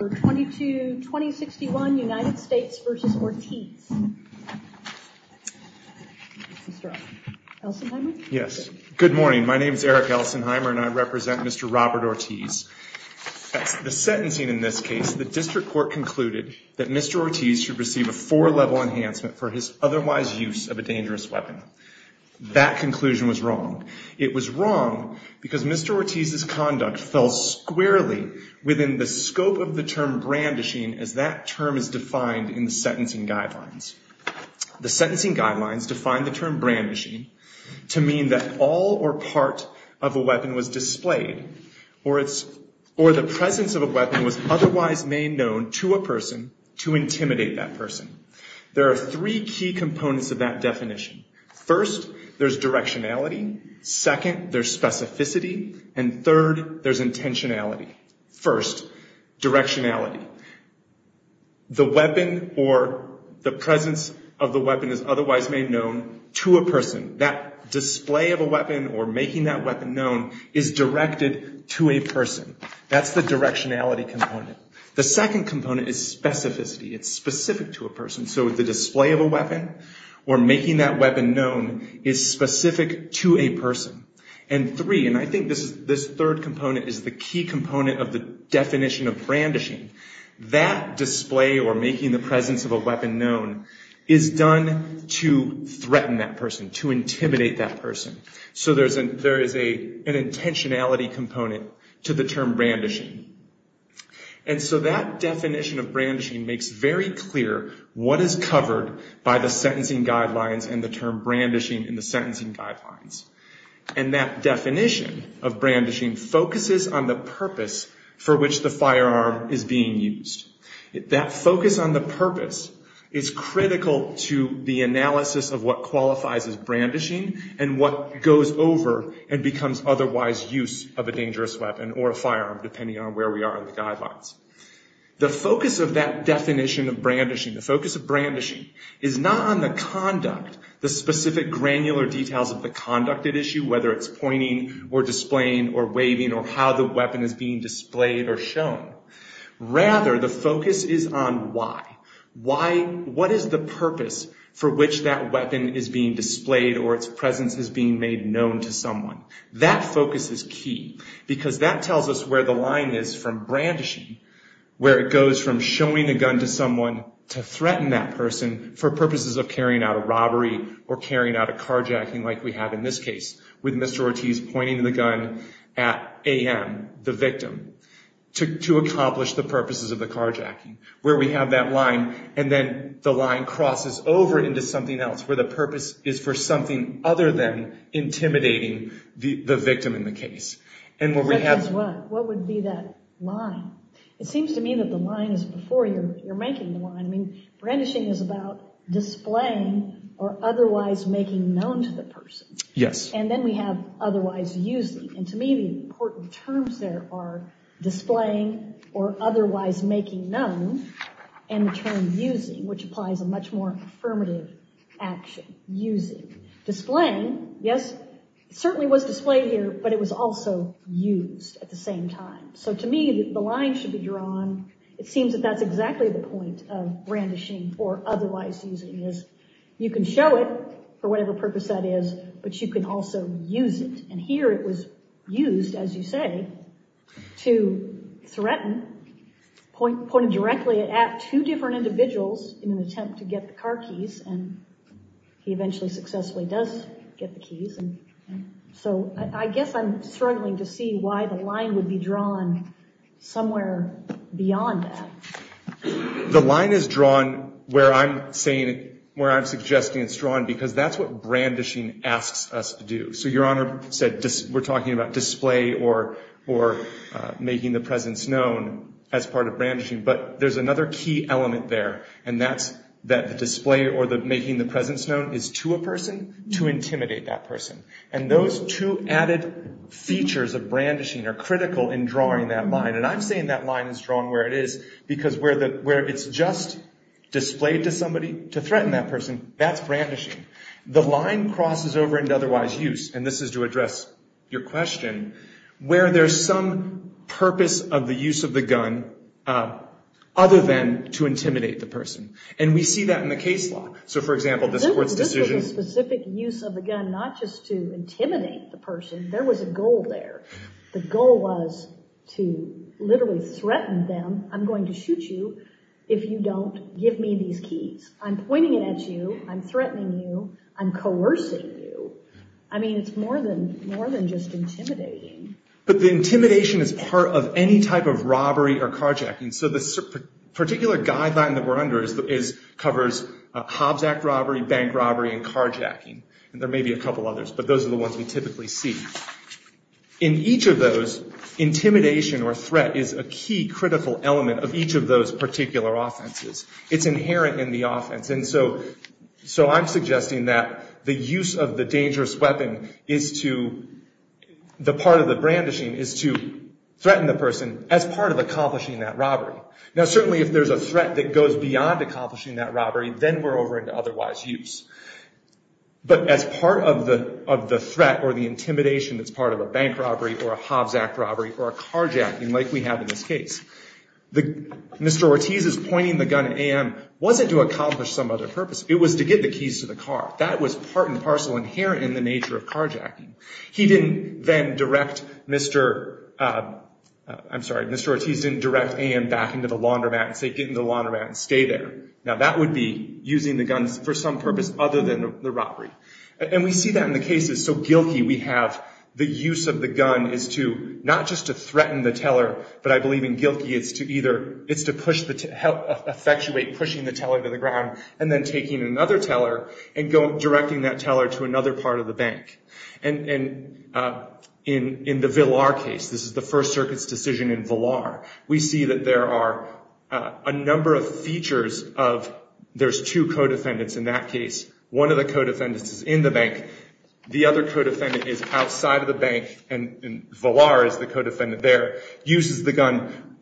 Yes, good morning. My name is Eric Elsenheimer and I represent Mr. Robert Ortiz. The sentencing in this case, the district court concluded that Mr. Ortiz should receive a four-level enhancement for his otherwise use of a dangerous weapon. That conclusion was wrong. It was as that term is defined in the sentencing guidelines. The sentencing guidelines define the term brandishing to mean that all or part of a weapon was displayed or the presence of a weapon was otherwise made known to a person to intimidate that person. There are three key components of that definition. First, there's directionality. Second, there's specificity. And third, there's intentionality. First, directionality. The weapon or the presence of the weapon is otherwise made known to a person. That display of a weapon or making that weapon known is directed to a person. That's the directionality component. The second component is specificity. It's specific to a person. So the display of a weapon or making that weapon known is specific to a person. And three, and I think this third component is the key component of the definition of brandishing, that display or making the presence of a weapon known is done to threaten that person, to intimidate that person. So there is an intentionality component to the term brandishing. And so that definition of brandishing makes very clear what is covered by the sentencing guidelines and the term brandishing in the sentencing guidelines. And that definition of brandishing focuses on the purpose for which the firearm is being used. That focus on the purpose is critical to the analysis of what qualifies as brandishing and what goes over and becomes otherwise use of a dangerous weapon or a firearm depending on where we are in the guidelines. The focus of that definition of brandishing, the focus of brandishing is not on the conduct, the specific granular details of the conduct at issue, whether it's pointing or displaying or waving or how the weapon is being displayed or shown. Rather, the focus is on why. Why, what is the purpose for which that weapon is being displayed or its presence is being made known to someone? That focus is key because that tells us where the line is from brandishing, where it goes from showing a gun to someone to threaten that person for purposes of carrying out a robbery or carrying out a carjacking like we have in this case with Mr. Ortiz pointing the gun at A.M., the victim, to accomplish the purposes of the carjacking, where we have that line and then the line crosses over into something else where the purpose is for something other than intimidating the victim in the case. And what would be that line? It seems to me that the line is before you're making the line. I mean, brandishing is about displaying or otherwise making known to the person. Yes. And then we have otherwise using. And to me, the important terms there are displaying or in turn using, which applies a much more affirmative action, using. Displaying, yes, it certainly was displayed here, but it was also used at the same time. So to me, the line should be drawn. It seems that that's exactly the point of brandishing or otherwise using is you can show it for whatever purpose that is, but you can also use it. And here it was used, as you say, to threaten, pointed directly at two different individuals in an attempt to get the car keys. And he eventually successfully does get the keys. And so I guess I'm struggling to see why the line would be drawn somewhere beyond that. The line is drawn where I'm saying, where I'm suggesting it's drawn because that's what talking about display or making the presence known as part of brandishing. But there's another key element there, and that's that the display or the making the presence known is to a person, to intimidate that person. And those two added features of brandishing are critical in drawing that line. And I'm saying that line is drawn where it is because where it's just displayed to somebody to threaten that person, that's brandishing. The line crosses over into otherwise use, and this is to address your question, where there's some purpose of the use of the gun other than to intimidate the person. And we see that in the case law. So, for example, this court's decision... This was a specific use of the gun, not just to intimidate the person. There was a goal there. The goal was to literally threaten them. I'm going to shoot you if you don't give me these keys. I'm pointing it at you. I'm threatening you. I'm coercing you. I mean, it's more than just intimidating. But the intimidation is part of any type of robbery or carjacking. So the particular guideline that we're under covers Hobbs Act robbery, bank robbery, and carjacking. And there may be a couple others, but those are the ones we typically see. In each of those, intimidation or threat is a key critical element of each of those particular offenses. It's inherent in the offense. And so I'm suggesting that the use of the dangerous weapon is to... The part of the brandishing is to threaten the person as part of accomplishing that robbery. Now certainly if there's a threat that goes beyond accomplishing that robbery, then we're over into otherwise use. But as part of the threat or the intimidation that's part of a bank robbery or a Hobbs Act robbery or a carjacking like we have in this case, Mr. Ortiz's pointing the gun at A.M. wasn't to accomplish some other purpose. It was to get the keys to the car. That was part and parcel inherent in the nature of carjacking. He didn't then direct Mr.... I'm sorry, Mr. Ortiz didn't direct A.M. back into the laundromat and say, get in the laundromat and stay there. Now that would be using the guns for some purpose other than the robbery. And we see that in the cases. So Gilkey, we have the use of the gun is to not just to threaten the teller, but I believe in Gilkey it's to either... It's to push the... Help effectuate pushing the teller to the ground and then taking another teller and directing that teller to another part of the bank. And in the Villar case, this is the First Circuit's decision in Villar, we see that there are a number of features of... There's two co-defendants in that case. One of the co-defendants is in the bank. The other co-defendant is outside of the bank and Villar is the co-defendant there, uses the gun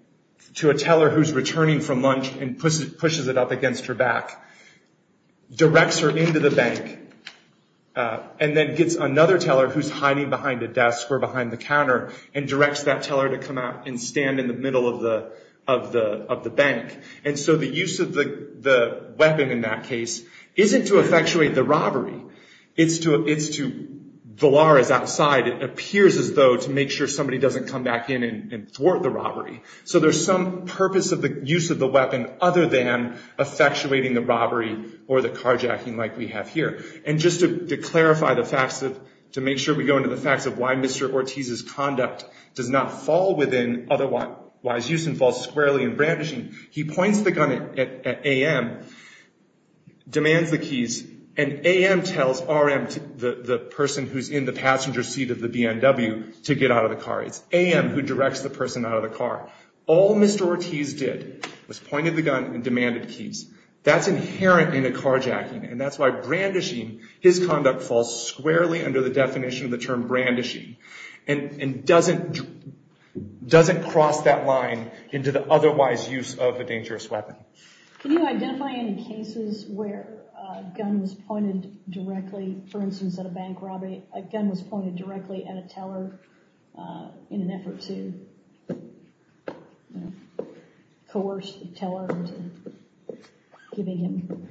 to a teller who's returning from lunch and pushes it up against her back, directs her into the bank, and then gets another teller who's hiding behind a desk or behind the counter and directs that teller to come out and stand in the middle of the bank. And so the use of the weapon in that case isn't to effectuate the robbery. It's to... Villar is outside. It appears as though to make sure somebody doesn't come back in and thwart the robbery. So there's some purpose of the use of the weapon other than effectuating the robbery or the carjacking like we have here. And just to clarify the facts of... To make sure we go into the facts of why Mr. Ortiz's conduct does not fall within otherwise use and falls squarely in brandishing, he points the gun at A.M., demands the keys, and A.M. tells R.M., the person who's in the passenger seat of the B&W, to get out of the car. It's A.M. who directs the person out of the car. All Mr. Ortiz did was pointed the gun and demanded keys. That's inherent in a carjacking and that's why brandishing, his conduct falls squarely under the definition of the term brandishing and doesn't cross that line into the otherwise use of a dangerous weapon. Can you identify any cases where a gun was pointed directly, for instance, at a bank robbery, a gun was pointed directly at a teller in an effort to coerce the teller into giving him...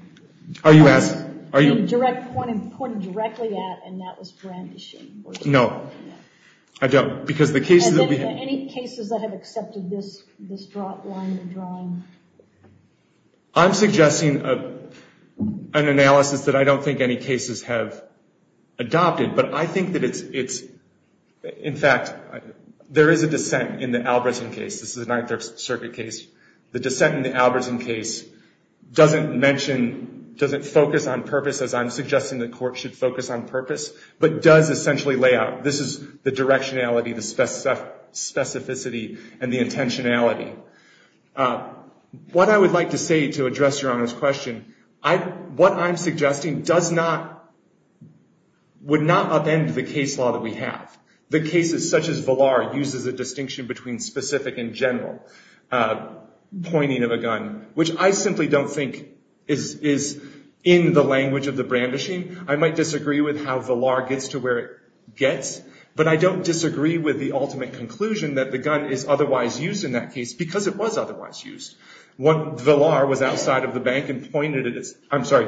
Are you asking? A gun was pointed directly at and that was brandishing? No. I don't. Because the case that we... I'm suggesting an analysis that I don't think any cases have adopted, but I think that it's... In fact, there is a dissent in the Albertson case. This is a Ninth Circuit case. The dissent in the Albertson case doesn't mention, doesn't focus on purpose, as I'm suggesting the court should focus on purpose, but does essentially lay out. This is the directionality, the specificity, and the intentionality. What I would like to say to address Your Honor's question, what I'm suggesting does not, would not upend the case law that we have. The cases such as Villar uses a distinction between specific and general pointing of a gun, which I simply don't think is in the language of the brandishing. I might disagree with how Villar gets to where it gets, but I don't disagree with the ultimate conclusion that the gun is otherwise used in that case, because it was otherwise used. What Villar was outside of the bank and pointed at, I'm sorry,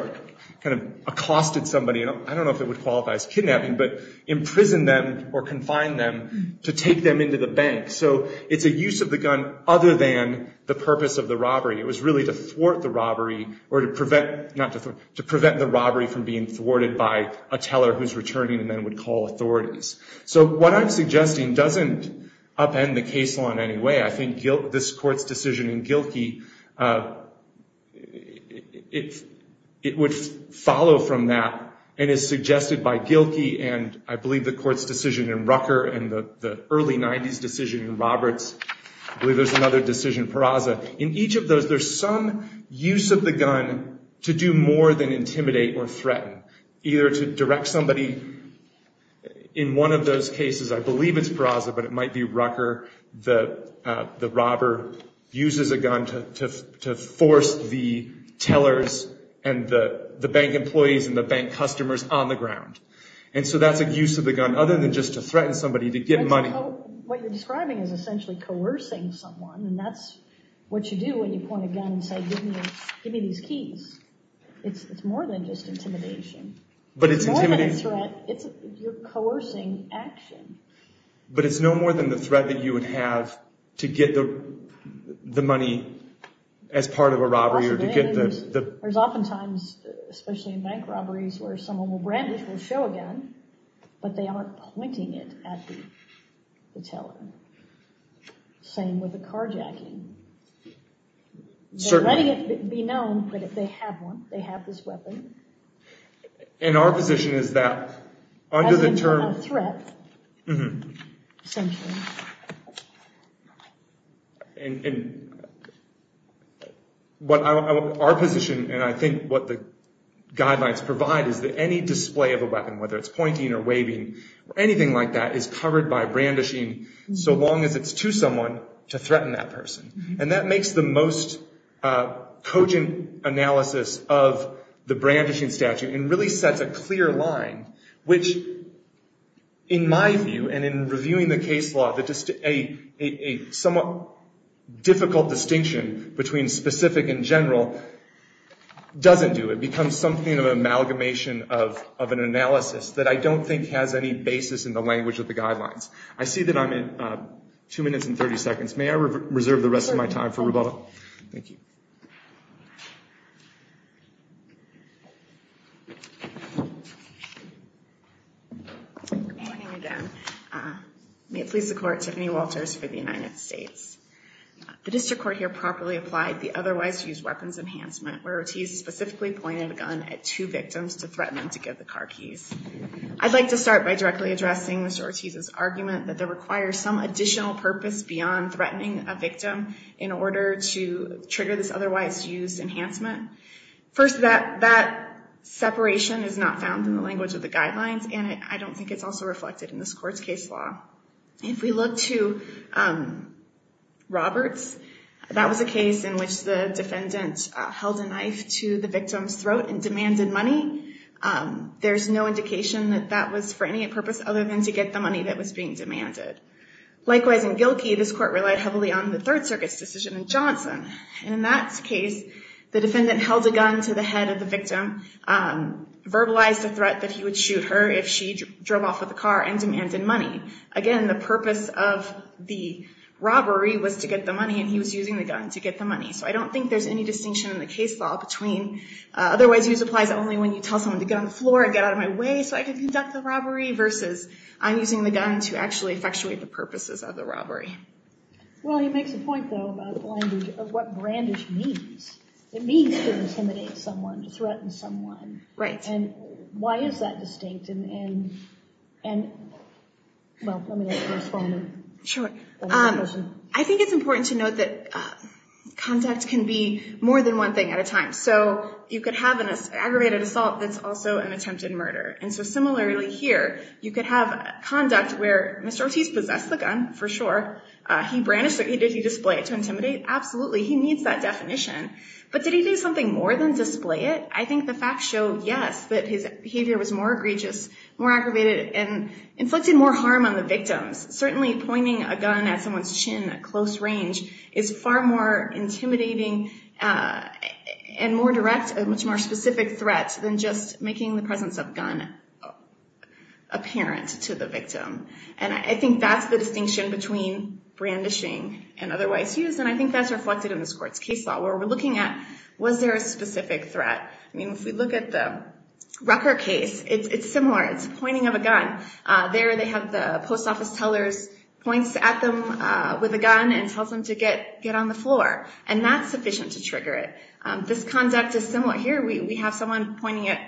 kind of accosted somebody, I don't know if it would qualify as kidnapping, but imprisoned them or confined them to take them into the bank. It's a use of the gun other than the purpose of the robbery. It was really to thwart the robbery or to prevent, not to thwart, to prevent the robbery from being thwarted by a teller who's returning and then would call authorities. So what I'm suggesting doesn't upend the case law in any way. I think this Court's decision in Gilkey, it would follow from that and is suggested by Gilkey and I believe the Court's decision in Rucker and the early 90s decision in Roberts. I believe there's another decision in Peraza. In each of those, there's some use of the gun to do more than intimidate or threaten, either to direct somebody. In one of those cases, I believe it's Peraza, but it might be Rucker, the robber uses a gun to force the tellers and the bank employees and the bank customers on the ground. And so that's a use of the gun other than just to threaten somebody to get money. What you're describing is essentially coercing someone and that's what you do when you point a gun and say, give me these keys. It's more than just intimidation. It's more than a threat. You're coercing action. But it's no more than the threat that you would have to get the money as part of a robbery or to get the... There's often times, especially in bank robberies, where someone will brandish or show a gun, but they aren't pointing it at the teller. Same with a carjacking. They're letting it be known, but if they have one, they have this weapon. And our position is that under the term... As a threat, essentially. Our position and I think what the guidelines provide is that any display of a weapon, whether it's pointing or waving or anything like that, is covered by brandishing so long as it's to someone to threaten that person. And that makes the most cogent analysis of the brandishing statute and really sets a clear line, which in my view and in reviewing the case law, a somewhat difficult distinction between specific and general doesn't do. It becomes something of an amalgamation of an analysis that I don't think has any basis in the language of the guidelines. I see that I'm at 2 minutes and 30 seconds. May I reserve the rest of my time for rebuttal? Thank you. Good morning again. May it please the court, Tiffany Walters for the United States. The district court here properly applied the otherwise used weapons enhancement, where Ortiz specifically pointed a gun at two victims to threaten them to give the car keys. I'd like to start by directly addressing Mr. Ortiz's argument that there requires some additional purpose beyond threatening a victim in order to trigger this otherwise used enhancement. First that separation is not found in the language of the guidelines and I don't think it's also reflected in this court's case law. If we look to Roberts, that was a case in which the defendant held a knife to the victim's head and he made the implication that that was for any purpose other than to get the money that was being demanded. Likewise in Gilkey, this court relied heavily on the Third Circuit's decision in Johnson. In that case, the defendant held a gun to the head of the victim, verbalized a threat that he would shoot her if she drove off with a car and demanded money. Again the purpose of the robbery was to get the money and he was using the gun to get the money. So I don't think there's any distinction in the case law between otherwise used supplies only when you tell someone to get on the floor and get out of my way so I can conduct the robbery versus I'm using the gun to actually effectuate the purposes of the robbery. Well, he makes a point though about the language of what brandish means. It means to intimidate someone, to threaten someone. And why is that distinct and, well, let me respond. I think it's important to note that contact can be more than one thing at a time. So you could have an aggravated assault that's also an attempted murder. And so similarly here, you could have conduct where Mr. Ortiz possessed the gun, for sure. He brandished it. Did he display it to intimidate? Absolutely. He needs that definition. But did he do something more than display it? I think the facts show, yes, that his behavior was more egregious, more aggravated, and inflicted more harm on the victims. Certainly pointing a gun at someone's chin at close range is far more intimidating and more direct, a much more specific threat than just making the presence of gun apparent to the victim. And I think that's the distinction between brandishing and otherwise used. And I think that's reflected in this court's case law where we're looking at was there a specific threat. I mean, if we look at the Rucker case, it's similar. It's pointing of a gun. There, they have the post office teller's points at them with a gun and tells them to get on the floor. And that's sufficient to trigger it. This conduct is similar. Here, we have someone pointing it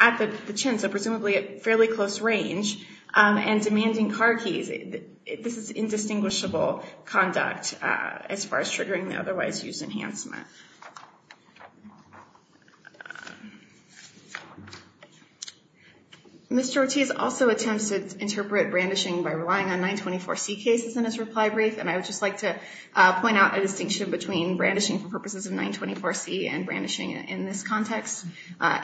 at the chin, so presumably at fairly close range, and demanding car keys. This is indistinguishable conduct as far as triggering the otherwise used enhancement. Mr. Ortiz also attempts to interpret brandishing by relying on 924C cases in his reply brief. And I would just like to point out a distinction between brandishing for purposes of 924C and brandishing in this context.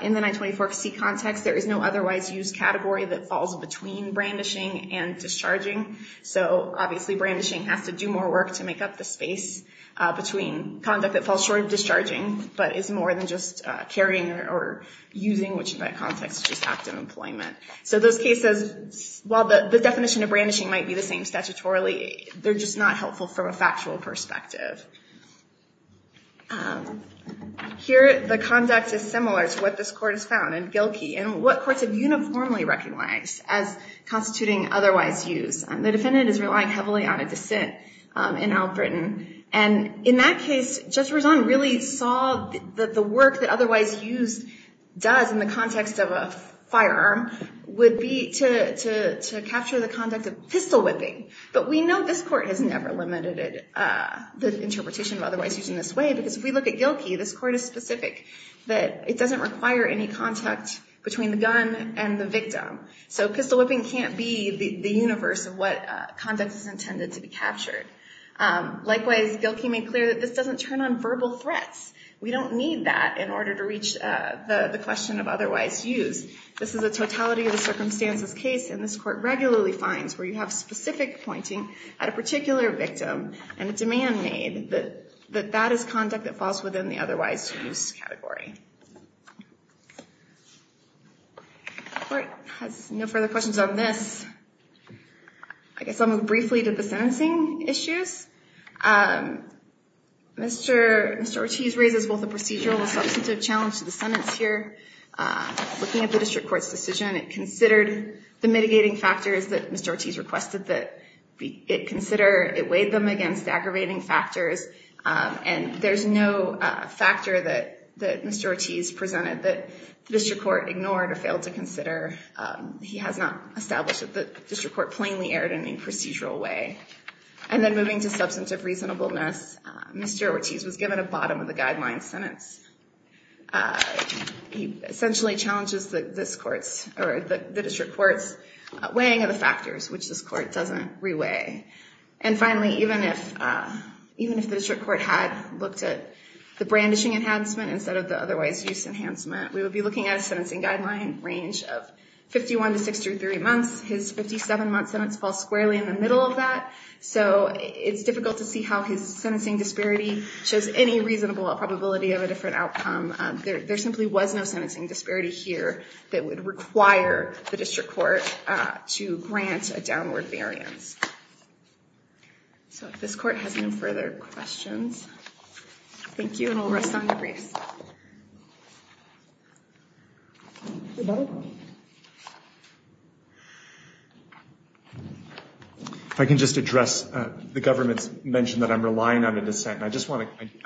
In the 924C context, there is no otherwise used category that falls between brandishing and discharging. So obviously, brandishing has to do more work to make up the space between conduct that is sort of discharging, but is more than just carrying or using, which in that context is just active employment. So those cases, while the definition of brandishing might be the same statutorily, they're just not helpful from a factual perspective. Here, the conduct is similar to what this court has found in Gilkey and what courts have uniformly recognized as constituting otherwise used. The defendant is relying heavily on a dissent in Albritton. And in that case, Judge Razon really saw that the work that otherwise used does in the context of a firearm would be to capture the conduct of pistol whipping. But we know this court has never lamented the interpretation of otherwise used in this way, because if we look at Gilkey, this court is specific that it doesn't require any contact between the gun and the victim. So pistol whipping can't be the universe of what conduct is intended to be captured. Likewise, Gilkey made clear that this doesn't turn on verbal threats. We don't need that in order to reach the question of otherwise used. This is a totality of the circumstances case, and this court regularly finds where you have specific pointing at a particular victim and a demand made that that is conduct that falls within the otherwise used category. The court has no further questions on this. I guess I'll move briefly to the sentencing issues. Mr. Ortiz raises both a procedural and substantive challenge to the sentence here. Looking at the district court's decision, it considered the mitigating factors that Mr. Ortiz requested that it consider. It weighed them against aggravating factors, and there's no factor that Mr. Ortiz presented that the district court ignored or failed to consider. He has not established that the district court plainly erred in any procedural way. And then moving to substantive reasonableness, Mr. Ortiz was given a bottom of the guideline sentence. He essentially challenges the district court's weighing of the factors, which this court doesn't re-weigh. And finally, even if the district court had looked at the brandishing enhancement instead of the otherwise used enhancement, we would be looking at a sentencing guideline range of 51 to 63 months. His 57-month sentence falls squarely in the middle of that. So it's difficult to see how his sentencing disparity shows any reasonable probability of a different outcome. There simply was no sentencing disparity here that would require the district court to grant a downward variance. So if this court has no further questions. Thank you, and I'll rest on your grace. If I can just address the government's mention that I'm relying on a dissent. I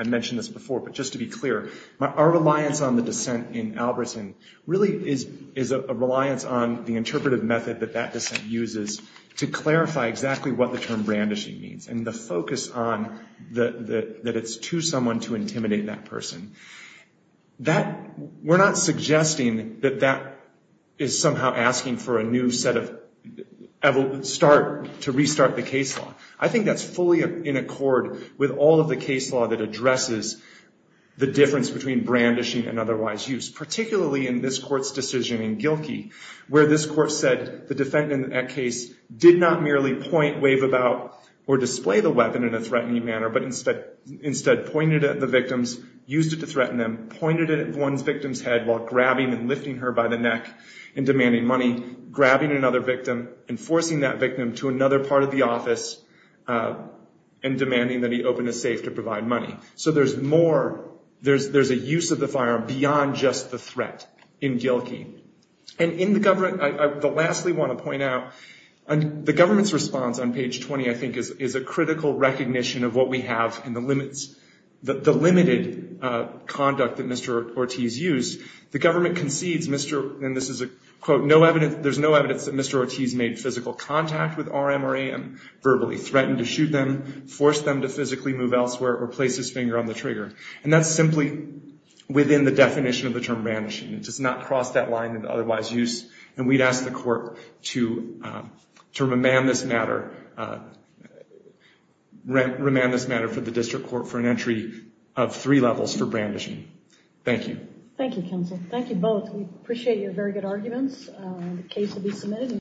mentioned this before, but just to be clear, our reliance on the dissent in Albertson really is a reliance on the interpretive method that that dissent uses to clarify exactly what the term brandishing means. And the focus on that it's to someone to intimidate that person. That, we're not suggesting that that is somehow asking for a new set of, to restart the case law. I think that's fully in accord with all of the case law that addresses the difference between brandishing and otherwise used. Particularly in this court's decision in Gilkey, where this court said the threatening manner, but instead pointed at the victims, used it to threaten them, pointed it at one's victim's head while grabbing and lifting her by the neck and demanding money, grabbing another victim and forcing that victim to another part of the office and demanding that he open a safe to provide money. So there's more, there's a use of the firearm beyond just the threat in Gilkey. And in the government, I lastly want to point out, the government's response on the critical recognition of what we have and the limits, the limited conduct that Mr. Ortiz used. The government concedes Mr., and this is a quote, no evidence, there's no evidence that Mr. Ortiz made physical contact with our MRA and verbally threatened to shoot them, force them to physically move elsewhere or place his finger on the trigger. And that's simply within the definition of the term brandishing. It does not cross that line of otherwise use. And we'd ask the court to remand this matter for the district court for an entry of three levels for brandishing. Thank you. Thank you, counsel. Thank you both. We appreciate your very good arguments. The case will be submitted.